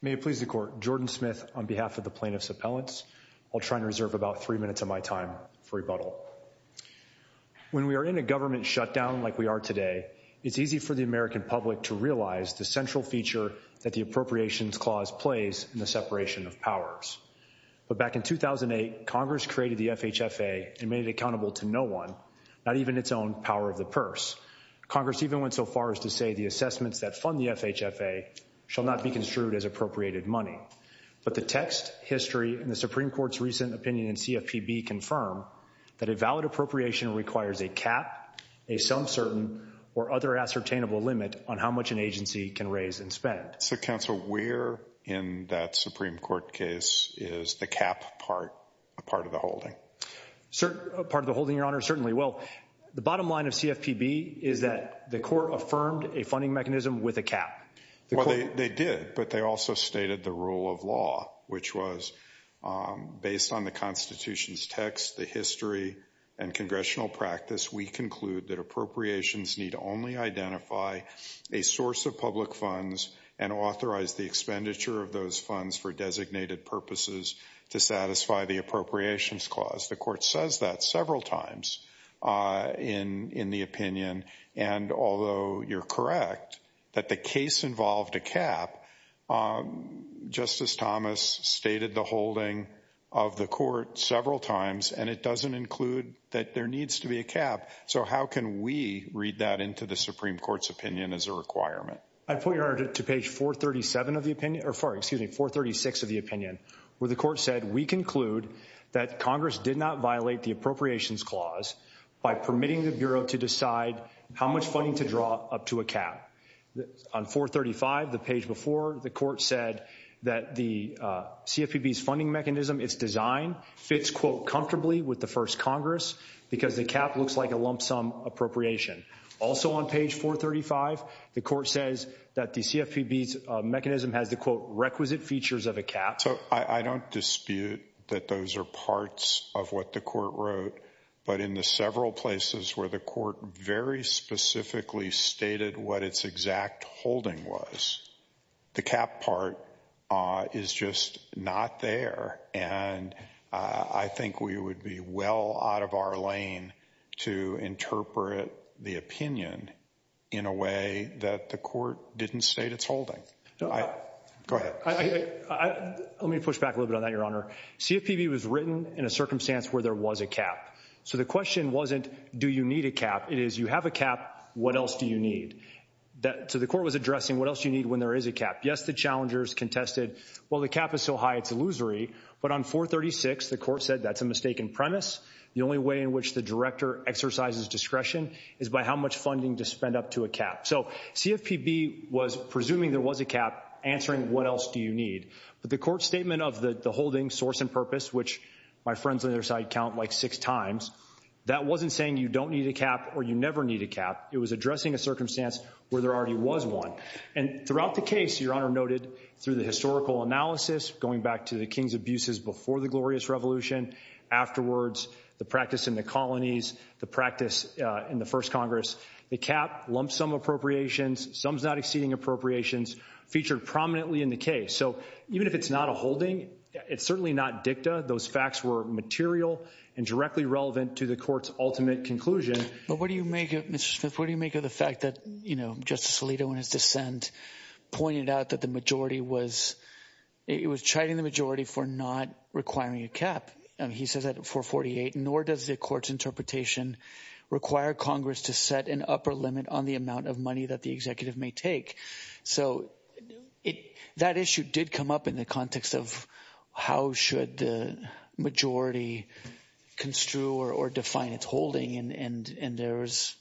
May it please the court, Jordan Smith on behalf of the plaintiffs appellants. I'll try and reserve about three minutes of my time for rebuttal. When we are in a government shutdown like we are today, it's easy for the American public to realize the central feature that the appropriations clause plays in the separation of powers. But back in 2008, Congress created the FHFA and made it accountable to no one, not even its own power of the purse. Congress even went so far as to say the assessments that the FHFA shall not be construed as appropriated money. But the text, history, and the Supreme Court's recent opinion in CFPB confirm that a valid appropriation requires a cap, a some certain, or other ascertainable limit on how much an agency can raise and spend. So counsel, where in that Supreme Court case is the cap part a part of the holding? Part of the holding, your honor, certainly. Well, the bottom line of CFPB is that the court affirmed a funding mechanism with a cap. Well, they did, but they also stated the rule of law, which was based on the Constitution's text, the history, and congressional practice. We conclude that appropriations need only identify a source of public funds and authorize the expenditure of those funds for designated purposes to satisfy the appropriations clause. The court says that several times in the opinion, and although you're correct that the case involved a cap, Justice Thomas stated the holding of the court several times, and it doesn't include that there needs to be a cap. So how can we read that into the Supreme Court's opinion as a requirement? I'd put your honor to page 437 of the opinion, or excuse me, 436 of the opinion, where the court said we conclude that Congress did not violate the appropriations clause by permitting the Bureau to decide how much funding to draw up to a cap. On 435, the page before, the court said that the CFPB's funding mechanism, its design, fits, quote, comfortably with the first Congress because the cap looks like a lump sum appropriation. Also on page 435, the court says that the CFPB's mechanism has the, quote, requisite features of a cap. So I don't dispute that those are parts of what the court wrote, but in the several places where the court very specifically stated what its exact holding was, the cap part is just not there. And I think we would be well out of our lane to interpret the opinion in a way that the court didn't state its holding. Go ahead. Let me push back a little bit on that, your honor. CFPB was written in a circumstance where there was a cap. So the question wasn't, do you need a cap? It is, you have a cap, what else do you need? So the court was addressing what else you need when there is a cap. Yes, the challengers contested, well, the cap is so high it's illusory, but on 436, the court said that's a mistaken premise. The only way in which the director exercises discretion is by how much funding to spend up to a cap. So CFPB was presuming there was a cap answering what else do you need? But the court statement of the holding source and purpose, which my friends on their side count like six times, that wasn't saying you don't need a cap or you never need a cap. It was addressing a circumstance where there already was one. And throughout the case, your honor noted, through the historical analysis, going back to the King's abuses before the glorious revolution, afterwards, the practice in the colonies, the practice in the first Congress, the cap lump sum appropriations, sums not exceeding appropriations featured prominently in the case. So even if it's not a holding, it's certainly not dicta. Those facts were material and directly relevant to the court's ultimate conclusion. But what do you make of, Mr. Smith, what do you make of the fact that, you know, Justice Alito and his dissent pointed out that the majority was, it was chiding the majority for not requiring a cap. He says that 448, nor does the court's interpretation require Congress to set an upper limit on the amount of money that the executive may take. So that issue did come up in the context of how should the majority construe or define its holding. And there's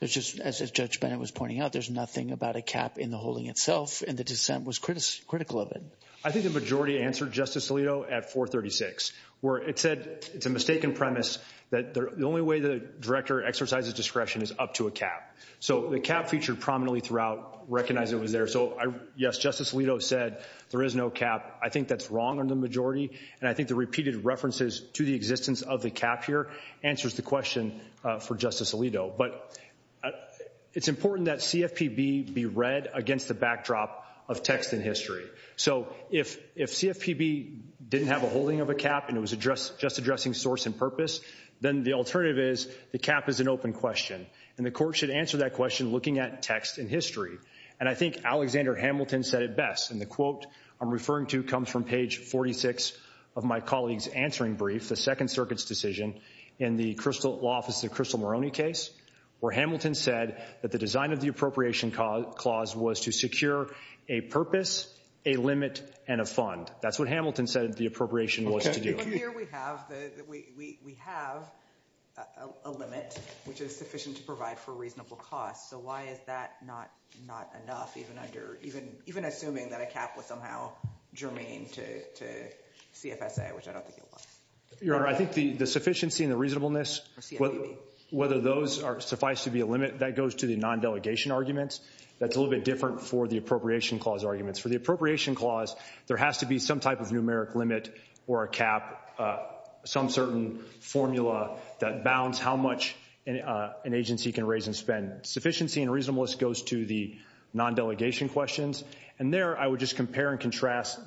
just, as Judge Bennett was pointing out, there's nothing about a cap in the holding itself. And the dissent was critical of it. I think the majority answered, Justice Alito, at 436, where it said it's a mistaken premise that the only way the director exercises discretion is up to a cap. So the cap featured prominently throughout, recognized it was there. So yes, Justice Alito said there is no cap. I think that's wrong on the majority. And I think the repeated references to the existence of the cap here answers the question for Justice Alito. But it's important that CFPB be read against the backdrop of text and history. So if CFPB didn't have a holding of a cap and it was just addressing source and purpose, then the alternative is the cap is an open question. And the court should answer that question looking at text and history. And I think Alexander Hamilton said it best. And the quote I'm referring to comes from page 46 of my colleague's answering brief, the Second Circuit's decision in the law office of Crystal Moroney case, where Hamilton said that the design of the appropriation clause was to secure a purpose, a limit, and a fund. That's what Hamilton said the appropriation was to do. Here we have a limit, which is sufficient to provide for a reasonable cost. So why is that not enough, even assuming that a cap was somehow germane to CFSA, which I don't think it was? Your Honor, I think the sufficiency and the reasonableness, whether those suffice to be a limit, that goes to the non-delegation arguments. That's a little bit different for the appropriation clause arguments. For the appropriation clause, there has to be some type of numeric limit or a cap, some certain formula that bounds how much an agency can raise and spend. Sufficiency and reasonableness goes to the non-delegation questions. And there, I would just compare and contrast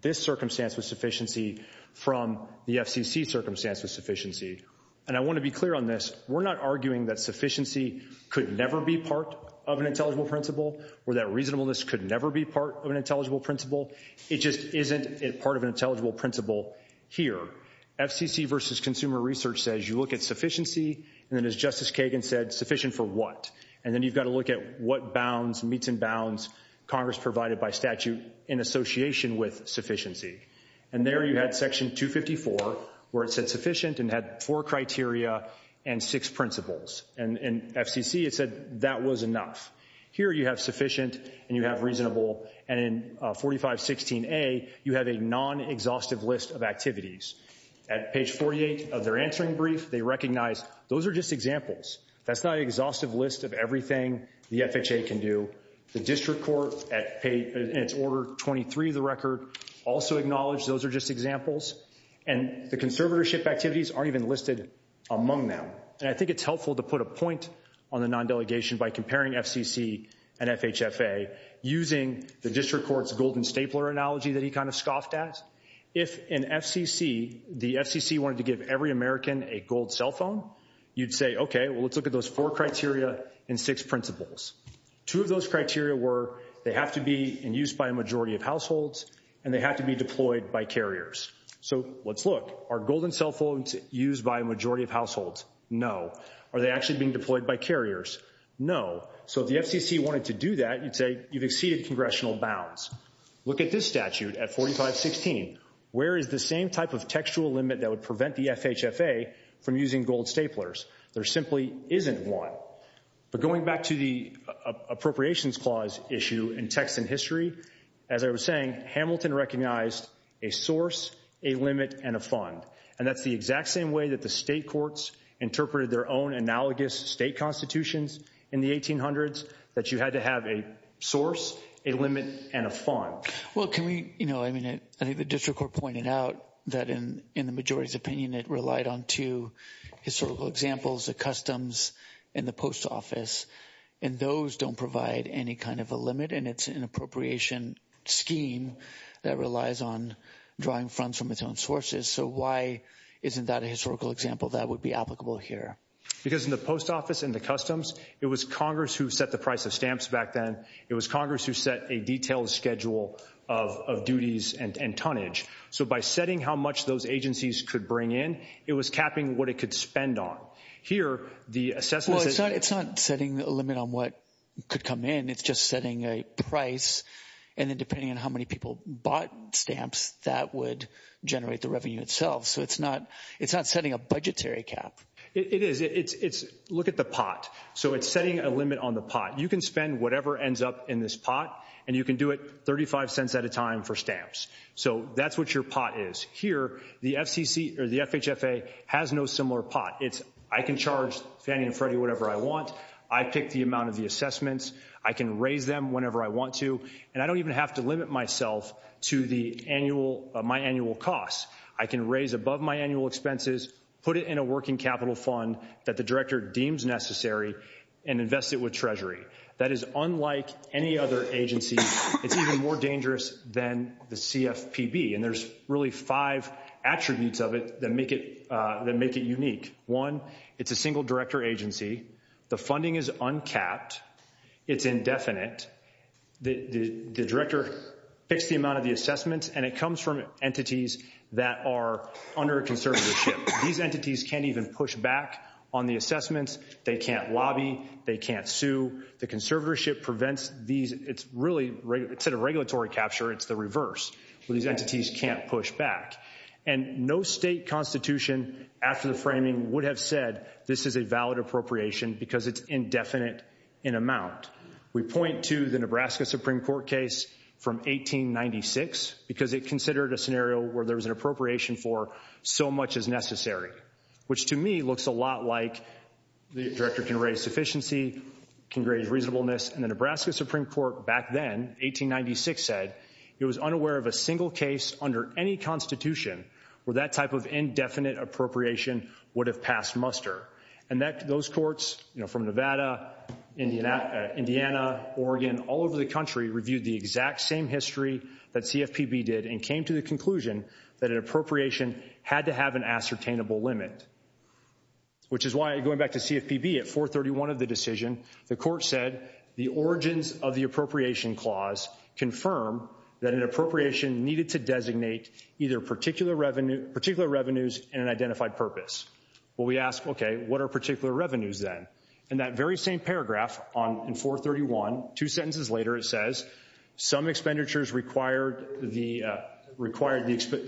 this circumstance with sufficiency from the FCC circumstance with sufficiency. And I want to be clear on this. We're not arguing that sufficiency could never be part of an intelligible principle, or that reasonableness could never be part of an intelligible principle. It just isn't part of an intelligible principle here. FCC versus consumer research says you look at sufficiency, and then as Justice Kagan said, sufficient for what? And then you've got to look at what bounds, meets and bounds, Congress provided by statute in association with sufficiency. And there you had section 254, where it said sufficient and had four criteria and six principles. And in FCC, it said that was enough. Here you have sufficient and you have reasonable, and in 4516A, you have a non-exhaustive list of activities. At page 48 of their answering brief, they recognize those are just examples. That's not an exhaustive list of everything the FHA can do. The district court, in its order 23 of the record, also acknowledged those are just examples. And the conservatorship activities aren't even listed among them. And I think it's helpful to put a point on the non-delegation by comparing FCC and FHFA using the district court's golden stapler analogy that he kind of scoffed at. If in FCC, the FCC wanted to give every American a gold cell phone, you'd say, okay, well, let's look at those four criteria and six principles. Two of those criteria were they have to be in use by a majority of households, and they have to be deployed by carriers. So let's look. Are golden cell phones used by a majority of households? No. Are they actually being deployed by carriers? No. So if the FCC wanted to do that, you'd say you've exceeded congressional bounds. Look at this statute at 4516. Where is the same type of textual limit that would prevent the FHFA from using gold staplers? There simply isn't one. But going back to the appropriations clause issue in text and history, as I was saying, Hamilton recognized a source, a limit, and a fund. And that's the exact same way that the state courts interpreted their own analogous state constitutions in the 1800s, that you had to have a source, a limit, and a fund. Well, can we, you know, I mean, I think the district court pointed out that in the majority's opinion, it relied on two historical examples, the customs and the post office. And those don't provide any kind of a limit. And it's an appropriation scheme that relies on drawing funds from its own sources. So why isn't that a historical example that would be applicable here? Because in the post office and the customs, it was Congress who set the price of stamps back then. It was Congress who set a detailed schedule of duties and tonnage. So by setting how much those agencies could bring in, it was capping what it could spend on. Here, the assessment... Well, it's not setting a limit on what could come in. It's just setting a price. And then depending on how many people bought stamps, that would generate the revenue itself. So it's not setting a budgetary cap. It is. Look at the pot. So it's setting a limit on the pot. You can spend whatever ends up in this pot, and you can do it 35 cents at a time for stamps. So that's what your pot is. Here, the FCC or the FHFA has no similar pot. I can charge Fannie and Freddie whatever I want. I pick the amount of the assessments. I can raise them whenever I want to. And I don't even have to limit myself to my annual costs. I can raise above my annual expenses, put it in a working capital fund that the director deems necessary, and invest it with Treasury. That is unlike any other agency. It's even more dangerous than the CFPB. And there's really five attributes of it that make it unique. One, it's a single director agency. The funding is uncapped. It's indefinite. The director picks the amount of the assessments, and it comes from entities that are under conservatorship. These entities can't even push back on the assessments. They can't lobby. They can't sue. The conservatorship prevents these. It's really, instead of regulatory capture, it's the reverse. These entities can't push back. And no state constitution after the framing would have said this is a valid appropriation because it's indefinite in amount. We point to the Nebraska Supreme Court case from 1896 because it considered a scenario where there was an appropriation for so much as necessary, which to me looks a lot like the director can raise sufficiency, can raise reasonableness. And the Nebraska Supreme Court back then, 1896, said it was unaware of a single case under any constitution where that type of indefinite appropriation would have passed muster. And those courts from Nevada, Indiana, Oregon, all over the country reviewed the exact same history that CFPB did and came to the conclusion that an appropriation had to have an ascertainable limit, which is why going back to CFPB at 431 of the decision, the court said the origins of the appropriation clause confirm that an appropriation needed to designate either particular revenues in an identified purpose. Well, we ask, okay, what are particular revenues then? And that very same paragraph in 431, two sentences later, it says some expenditures required the,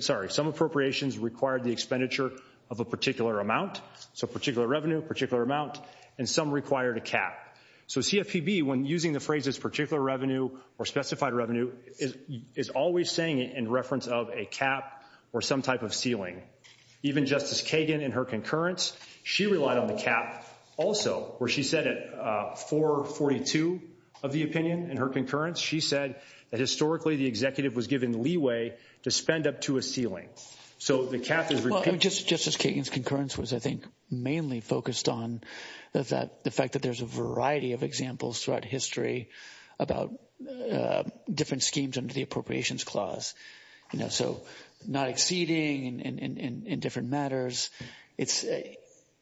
sorry, some appropriations required the expenditure of a particular amount. So particular revenue, particular amount, and some required a cap. So CFPB, when using the phrase particular revenue or specified revenue, is always saying it in reference of a cap or some type of ceiling. Even Justice Kagan in her concurrence, she relied on the cap. Also, where she said at 442 of the opinion in her concurrence, she said that historically, the executive was given leeway to spend up to a ceiling. So the cap is repeated. Justice Kagan's concurrence was, I think, mainly focused on the fact that there's a variety of examples throughout history about different schemes under the appropriations clause. You know, so not exceeding in different matters. It's,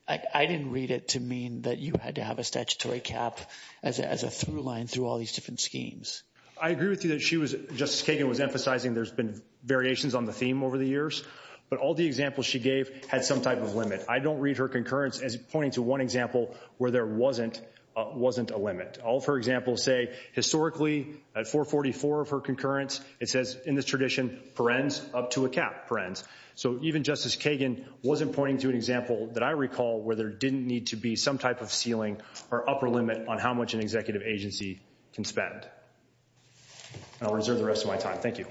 I didn't read it to mean that you had to have a statutory cap as a through line through all these different schemes. I agree with you that she was, Justice Kagan was emphasizing there's been variations on the theme over the years, but all the examples she gave had some type of limit. I don't read her concurrence as one example where there wasn't a limit. All of her examples say historically at 444 of her concurrence, it says in this tradition, perens up to a cap, perens. So even Justice Kagan wasn't pointing to an example that I recall where there didn't need to be some type of ceiling or upper limit on how much an executive agency can spend. I'll reserve the rest of my time. Thank you.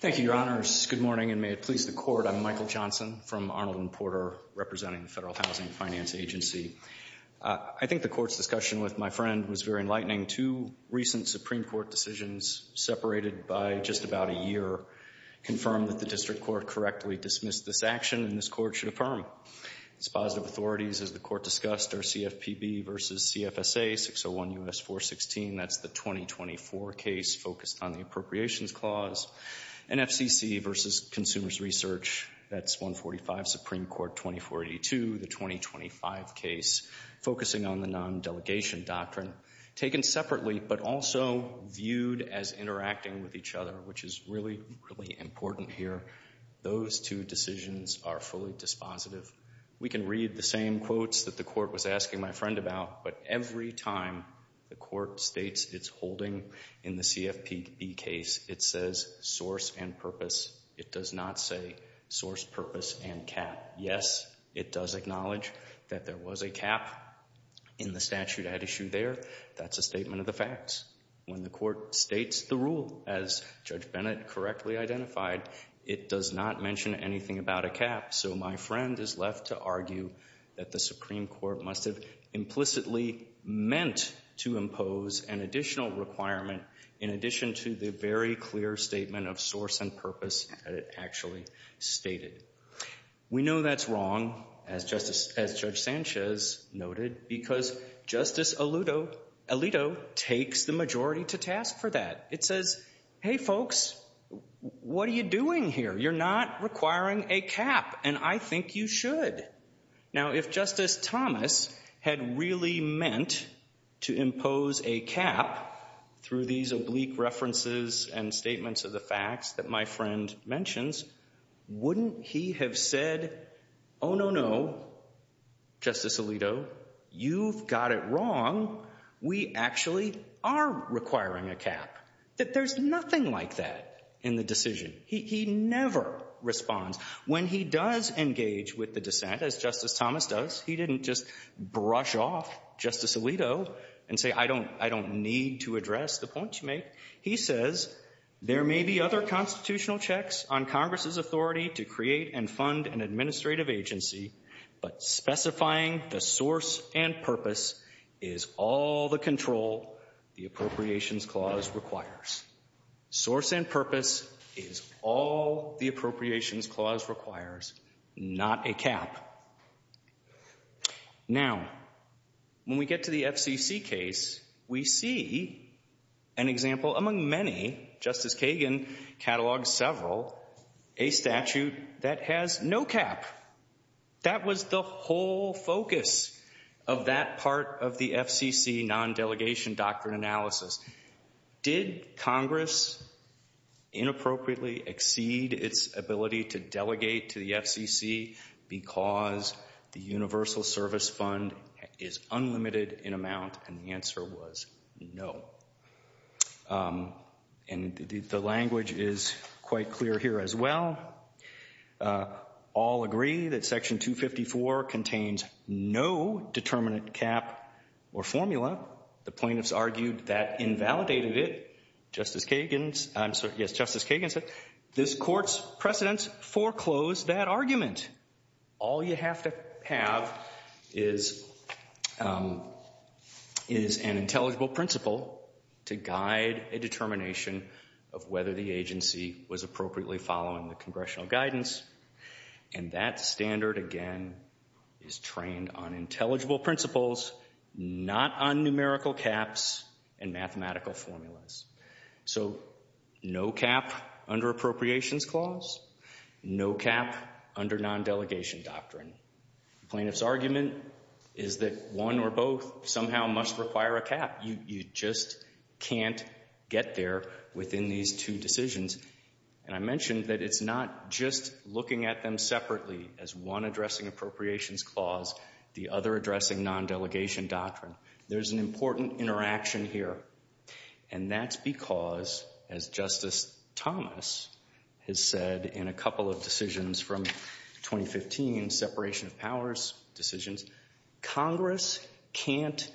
Thank you, your honors. Good morning and may it please the court. I'm Michael Johnson from Arnold and Porter representing the Federal Housing Finance Agency. I think the court's discussion with my friend was very enlightening. Two recent Supreme Court decisions separated by just about a year confirmed that the district court correctly dismissed this action and this court should affirm. Its positive authorities, as the court discussed, are CFPB versus CFSA, 601 U.S. 416, that's the 2024 case focused on the appropriations clause. NFCC versus consumers research, that's 145 Supreme Court 2482, the 2025 case focusing on the non-delegation doctrine. Taken separately but also viewed as interacting with each other, which is really, really important here, those two decisions are fully dispositive. We can read the same quotes that the court was asking my friend about, but every time the court states its holding in the CFPB case, it says source and purpose. It does not say source, purpose, and cap. Yes, it does acknowledge that there was a cap in the statute at issue there. That's a statement of facts. When the court states the rule, as Judge Bennett correctly identified, it does not mention anything about a cap. So my friend is left to argue that the Supreme Court must have implicitly meant to impose an additional requirement in addition to the very clear statement of source and purpose that it actually stated. We know that's wrong, as Judge Sanchez noted, because Justice Alito takes the majority to task for that. It says, hey, folks, what are you doing here? You're not requiring a cap, and I think you should. Now, if Justice Thomas had really meant to impose a cap through these oblique references and statements of the facts that my friend mentions, wouldn't he have said, oh, no, no, Justice Alito, you've got it wrong. We actually are requiring a cap. There's nothing like that in the decision. He never responds. When he does engage with the dissent, as Justice Thomas does, he didn't just brush off Justice Alito and say, I don't need to address the points you make. He says, there may be other constitutional checks on Congress's authority to create and fund an administrative agency, but specifying the source and purpose is all the control the Appropriations Clause requires. Source and purpose is all the Appropriations Clause requires, not a cap. Now, when we get to the FCC case, we see an example, among many, Justice Kagan catalogs several, a statute that has no cap. That was the whole focus of that part of the FCC non-delegation doctrine analysis. Did Congress inappropriately exceed its ability to delegate to the FCC because the Universal Service Fund is unlimited in amount? And the answer was no. And the language is quite clear here as well. All agree that Section 254 contains no determinant cap or formula. The plaintiffs argued that invalidated it. Justice Kagan said, this court's precedents foreclosed that argument. All you have to have is an intelligible principle to guide a determination of whether the agency was appropriately following the congressional guidance. And that standard, again, is trained on intelligible principles, not on numerical caps and mathematical formulas. So no cap under Appropriations Clause, no cap under non-delegation doctrine. The plaintiff's argument is that one or both somehow must require a cap. You just can't get there within these two decisions. And I mentioned that it's not just looking at them separately as one addressing Appropriations Clause, the other addressing non-delegation doctrine. There's an important interaction here. And that's because, as Justice Thomas has said in a couple of decisions from 2015, separation of powers decisions, Congress can't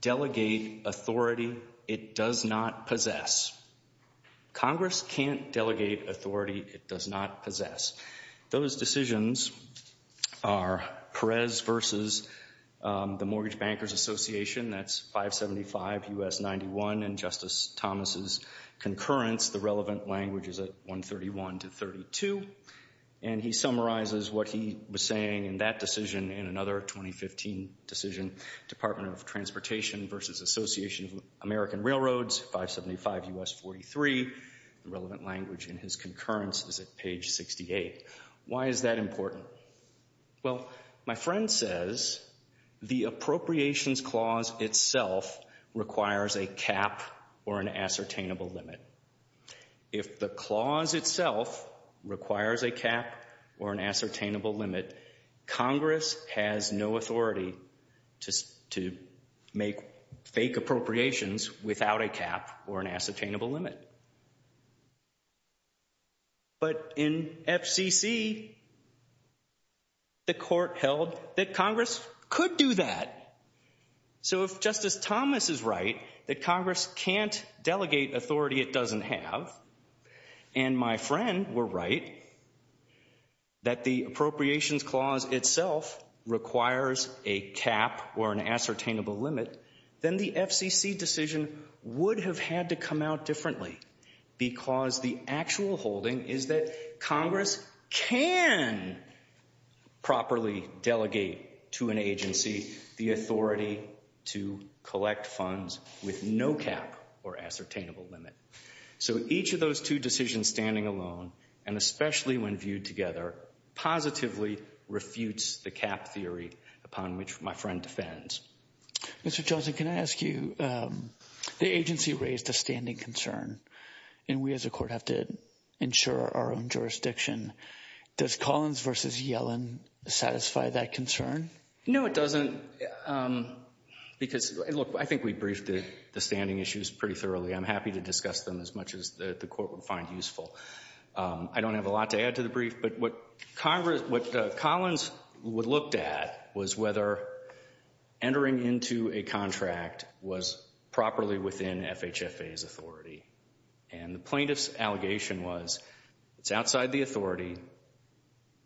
delegate authority it does not possess. Congress can't delegate authority it does not possess. Those decisions are Perez versus the Mortgage Bankers Association, that's 575 U.S. 91, and Justice Thomas's concurrence, the relevant language is at 131 to 32. And he summarizes what he was saying in that decision in another 2015 decision, Department of Transportation versus Association of American Railroads, 575 U.S. 43. The relevant language in his concurrence is at page 68. Why is that important? Well, my friend says the Appropriations Clause itself requires a cap or an ascertainable limit. If the clause itself requires a cap or an ascertainable limit, Congress has no authority to make fake appropriations without a cap or an ascertainable limit. But in FCC, the court held that Congress could do that. So if Justice Thomas is right, that Congress can't delegate authority it doesn't have, and my friend were right, that the Appropriations Clause itself requires a cap or an ascertainable limit, then the FCC decision would have had to come out differently because the actual holding is that Congress can properly delegate to an agency the authority to collect funds with no cap or ascertainable limit. So each of those two decisions standing alone, and especially when viewed together, positively refutes the cap theory upon which my friend defends. Mr. Johnson, can I ask you, the agency raised a standing concern, and we as a court have to ensure our own jurisdiction. Does Collins versus Yellen satisfy that concern? No, it doesn't. Because, look, I think we briefed the standing issues pretty thoroughly. I'm happy to discuss them as much as the court would find useful. I don't have a lot to add to the brief, but what Collins looked at was whether entering into a contract was properly within FHFA's authority. And the plaintiff's allegation was, it's outside the authority,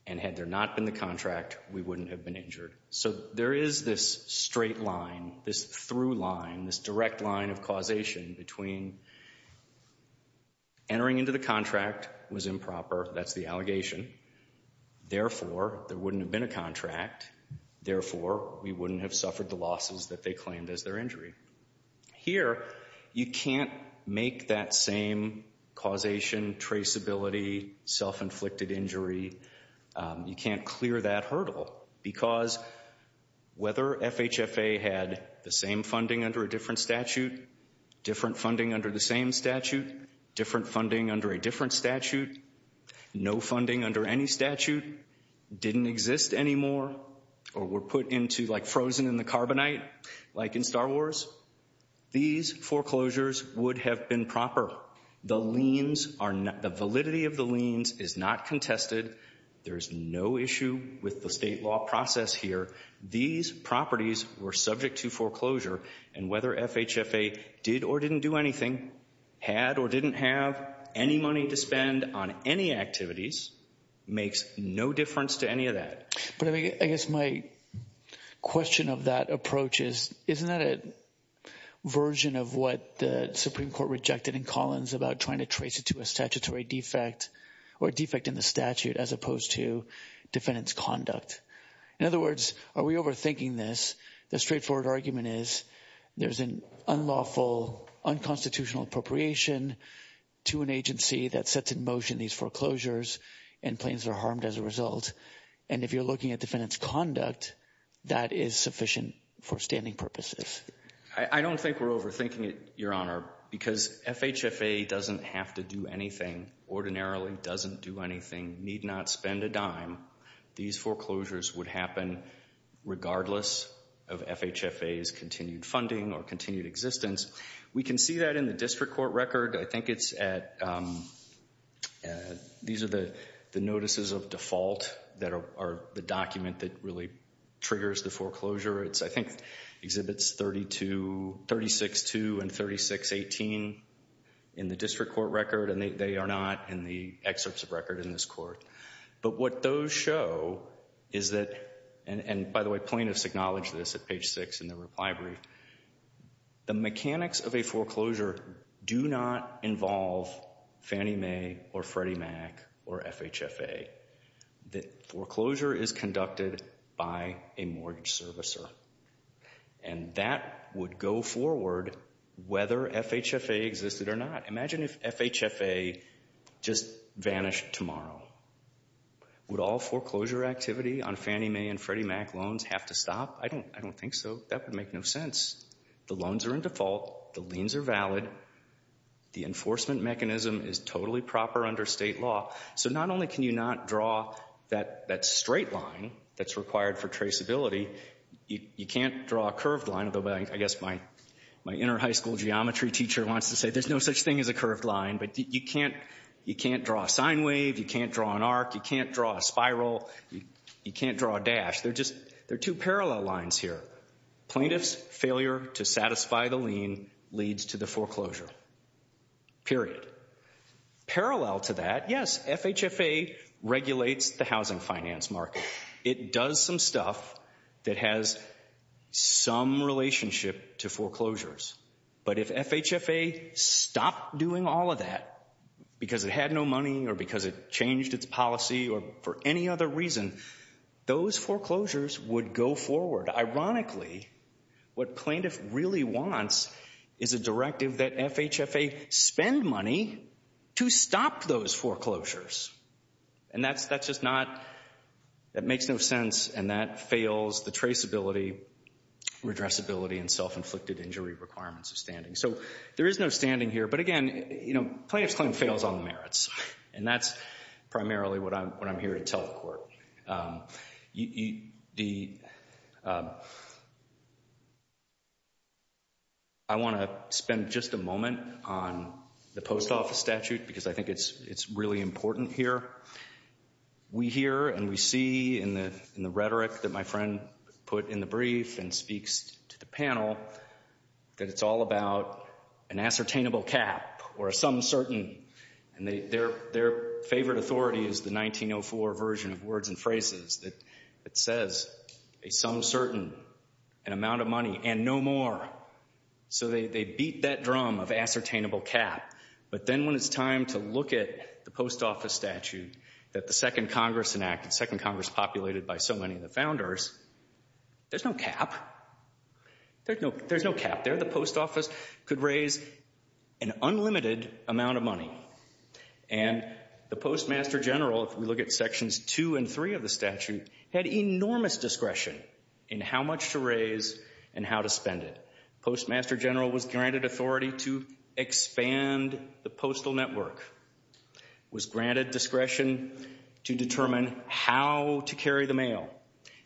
and had there not been the contract, we wouldn't have been injured. So there is this straight line, this through line, this direct line of causation between entering into the contract was improper. That's the allegation. Therefore, there wouldn't have been a contract. Therefore, we wouldn't have suffered the losses that they claimed as their injury. Here, you can't make that same causation, traceability, self-inflicted injury, you can't clear that hurdle. Because whether FHFA had the same funding under a different statute, different funding under the same statute, different funding under a different statute, no funding under any statute, didn't exist anymore, or were put into, like, frozen in the carbonite, like in Star Wars, these foreclosures would have been proper. The liens are not, the validity of the liens is not contested. There's no issue with the state law process here. These properties were subject to foreclosure, and whether FHFA did or didn't do anything, had or didn't have any money to spend on any activities, makes no difference to any of that. But I guess my question of that approach is, isn't that a version of what the Supreme Court rejected in Collins about trying to trace it to a statutory defect, or a defect in the statute, as opposed to defendant's conduct? In other words, are we overthinking this? The straightforward argument is, there's an unlawful, unconstitutional appropriation to an agency that sets in motion these foreclosures, and plaintiffs are harmed as a result. And if you're looking at defendant's conduct, that is sufficient for standing purposes. I don't think we're overthinking it, because FHFA doesn't have to do anything, ordinarily doesn't do anything, need not spend a dime. These foreclosures would happen regardless of FHFA's continued funding or continued existence. We can see that in the district court record. I think it's at, these are the notices of default that are the document that really triggers the foreclosure. It's, I think, exhibits 32, 36.2 and 36.18 in the district court record, and they are not in the excerpts of record in this court. But what those show is that, and by the way, plaintiffs acknowledge this at page six in their reply brief, the mechanics of a foreclosure do not involve Fannie Mae or Freddie Mac or FHFA. The foreclosure is conducted by a mortgage servicer, and that would go forward whether FHFA existed or not. Imagine if FHFA just vanished tomorrow. Would all foreclosure activity on Fannie Mae and Freddie Mac loans have to stop? I don't think so. That would make no sense. The loans are in default, the liens are valid, the enforcement mechanism is totally proper under state law. So not only can you not draw that straight line that's required for traceability, you can't draw a curved line, although I guess my inner high school geometry teacher wants to say there's no such thing as a curved line, but you can't draw a sine wave, you can't draw an arc, you can't draw a spiral, you can't draw a dash. They're two parallel lines here. Plaintiff's failure to satisfy the lien leads to the foreclosure, period. Parallel to that, yes, FHFA regulates the housing finance market. It does some stuff that has some relationship to foreclosures, but if FHFA stopped doing all of that because it had no money or because it changed its policy or for any other reason, those foreclosures would go forward. Ironically, what plaintiff really wants is a directive that FHFA spend money to stop those foreclosures. And that's just not, that makes no sense, and that fails the traceability, redressability, and self-inflicted injury requirements of standing. So there is no standing here, but again, you know, plaintiff's claim fails on the merits, and that's primarily what I'm here to tell the court. I want to spend just a moment on the post office statute because I think it's really important here. We hear and we see in the rhetoric that my friend put in the brief and speaks to the and their favorite authority is the 1904 version of words and phrases that says a sum certain, an amount of money, and no more. So they beat that drum of ascertainable cap, but then when it's time to look at the post office statute that the second Congress enacted, second Congress populated by so many of the founders, there's no cap. There's no cap there. The post office could raise an unlimited amount of money, and the postmaster general, if we look at sections two and three of the statute, had enormous discretion in how much to raise and how to spend it. Postmaster general was granted authority to expand the postal network, was granted discretion to determine how to carry the mail,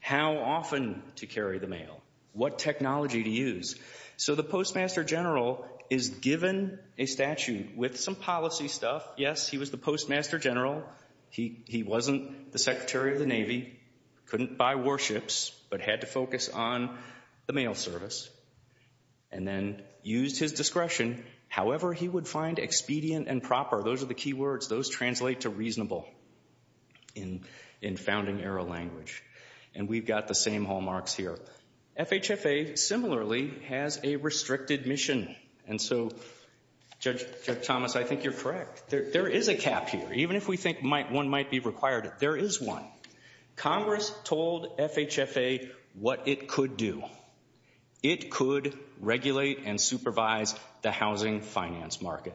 how often to carry the mail, what technology to use. So the postmaster general is given a statute with some policy stuff. Yes, he was the postmaster general. He wasn't the secretary of the Navy, couldn't buy warships, but had to focus on the mail service, and then used his discretion however he would find expedient and proper. Those are the key words. Those translate to reasonable in founding era language, and we've got the same hallmarks here. FHFA similarly has a restricted mission, and so Judge Thomas, I think you're correct. There is a cap here. Even if we think one might be required, there is one. Congress told FHFA what it could do. It could regulate and supervise the housing finance market.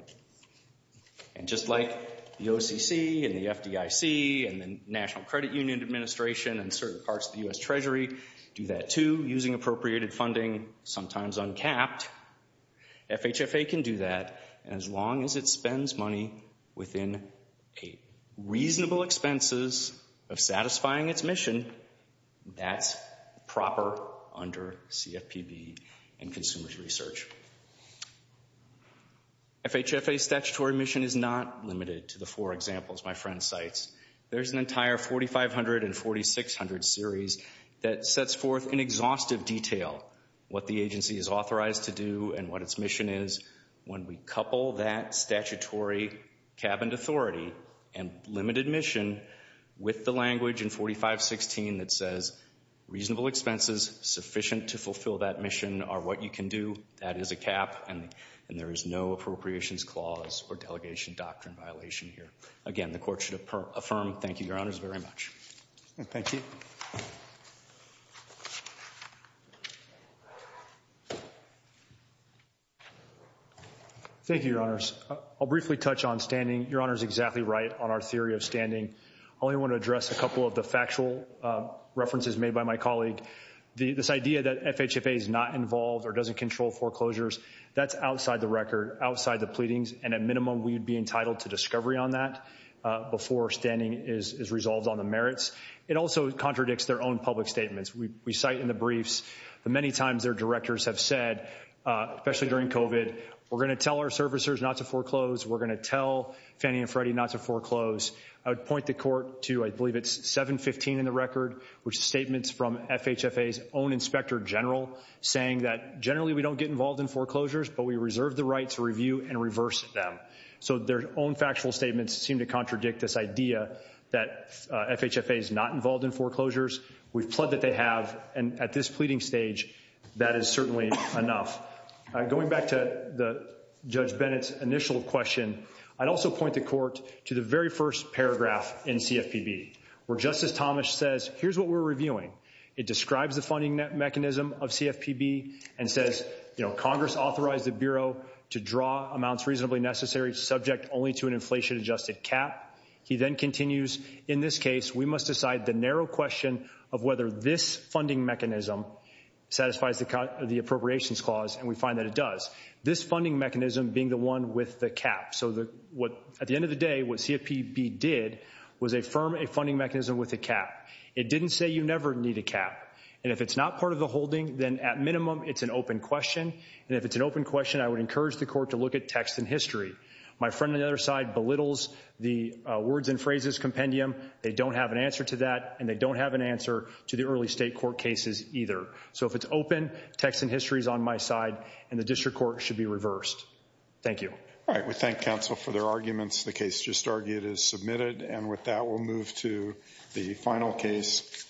And just like the OCC and the FDIC and the National Credit Union Administration and certain parts of the U.S. Treasury do that too using appropriated funding, sometimes uncapped, FHFA can do that as long as it spends money within a reasonable expenses of satisfying its mission that's proper under CFPB and consumer's research. FHFA statutory mission is not limited to the four examples my friend cites. There's an entire 4,500 and 4,600 series that sets forth in exhaustive detail what the agency is authorized to do and what its mission is. When we couple that statutory cabinet authority and limited mission with the language in 4516 that says reasonable expenses sufficient to fulfill that mission are what you can do, that is a cap, and there is no appropriations clause or delegation doctrine violation here. Again, the Court should affirm. Thank you, Your Honors, very much. Thank you. Thank you, Your Honors. I'll briefly touch on standing. Your Honor is exactly right on our theory of standing. I only want to address a couple of the factual references made by my colleague. This idea that FHFA is not involved or doesn't control foreclosures, that's outside the record, outside the pleadings, and at minimum we would be entitled to discovery on that before standing is resolved on the merits. It also contradicts their own public statements. We cite in the briefs the many times their directors have said, especially during COVID, we're going to tell our servicers not to foreclose, we're going to tell Fannie and Freddie not to foreclose. I would point the Court to, I believe it's 715 in the record, which is statements from FHFA's own Inspector General saying that generally we don't get involved in foreclosures, but we reserve the right to review and reverse them. So their own factual statements seem to contradict this idea that FHFA is not involved in foreclosures. We've pled that they have, and at this pleading stage, that is certainly enough. Going back to Judge Bennett's initial question, I'd also point the Court to the very first paragraph in CFPB, where Justice Thomas says, here's what we're reviewing. It describes the funding mechanism of CFPB and says, you know, Congress authorized the Bureau to draw amounts reasonably necessary subject only to an inflation-adjusted cap. He then continues, in this case, we must decide the narrow question of whether this funding mechanism satisfies the appropriations clause, and we find that it does. This funding mechanism being the one with the cap. So at the end of the day, what CFPB did was affirm a funding mechanism with a cap. It didn't say you never need a cap, and if it's not part of the holding, then at minimum, it's an open question, and if it's an open question, I would encourage the Court to look at text and history. My friend on the other side belittles the words and phrases compendium. They don't have an answer to that, and they don't have an answer to the early state court cases either. So if it's open, text and history is on my side, and the District Court should be reversed. Thank you. All right, we thank counsel for their arguments. The case just argued is submitted, and with that, we'll move to the final case.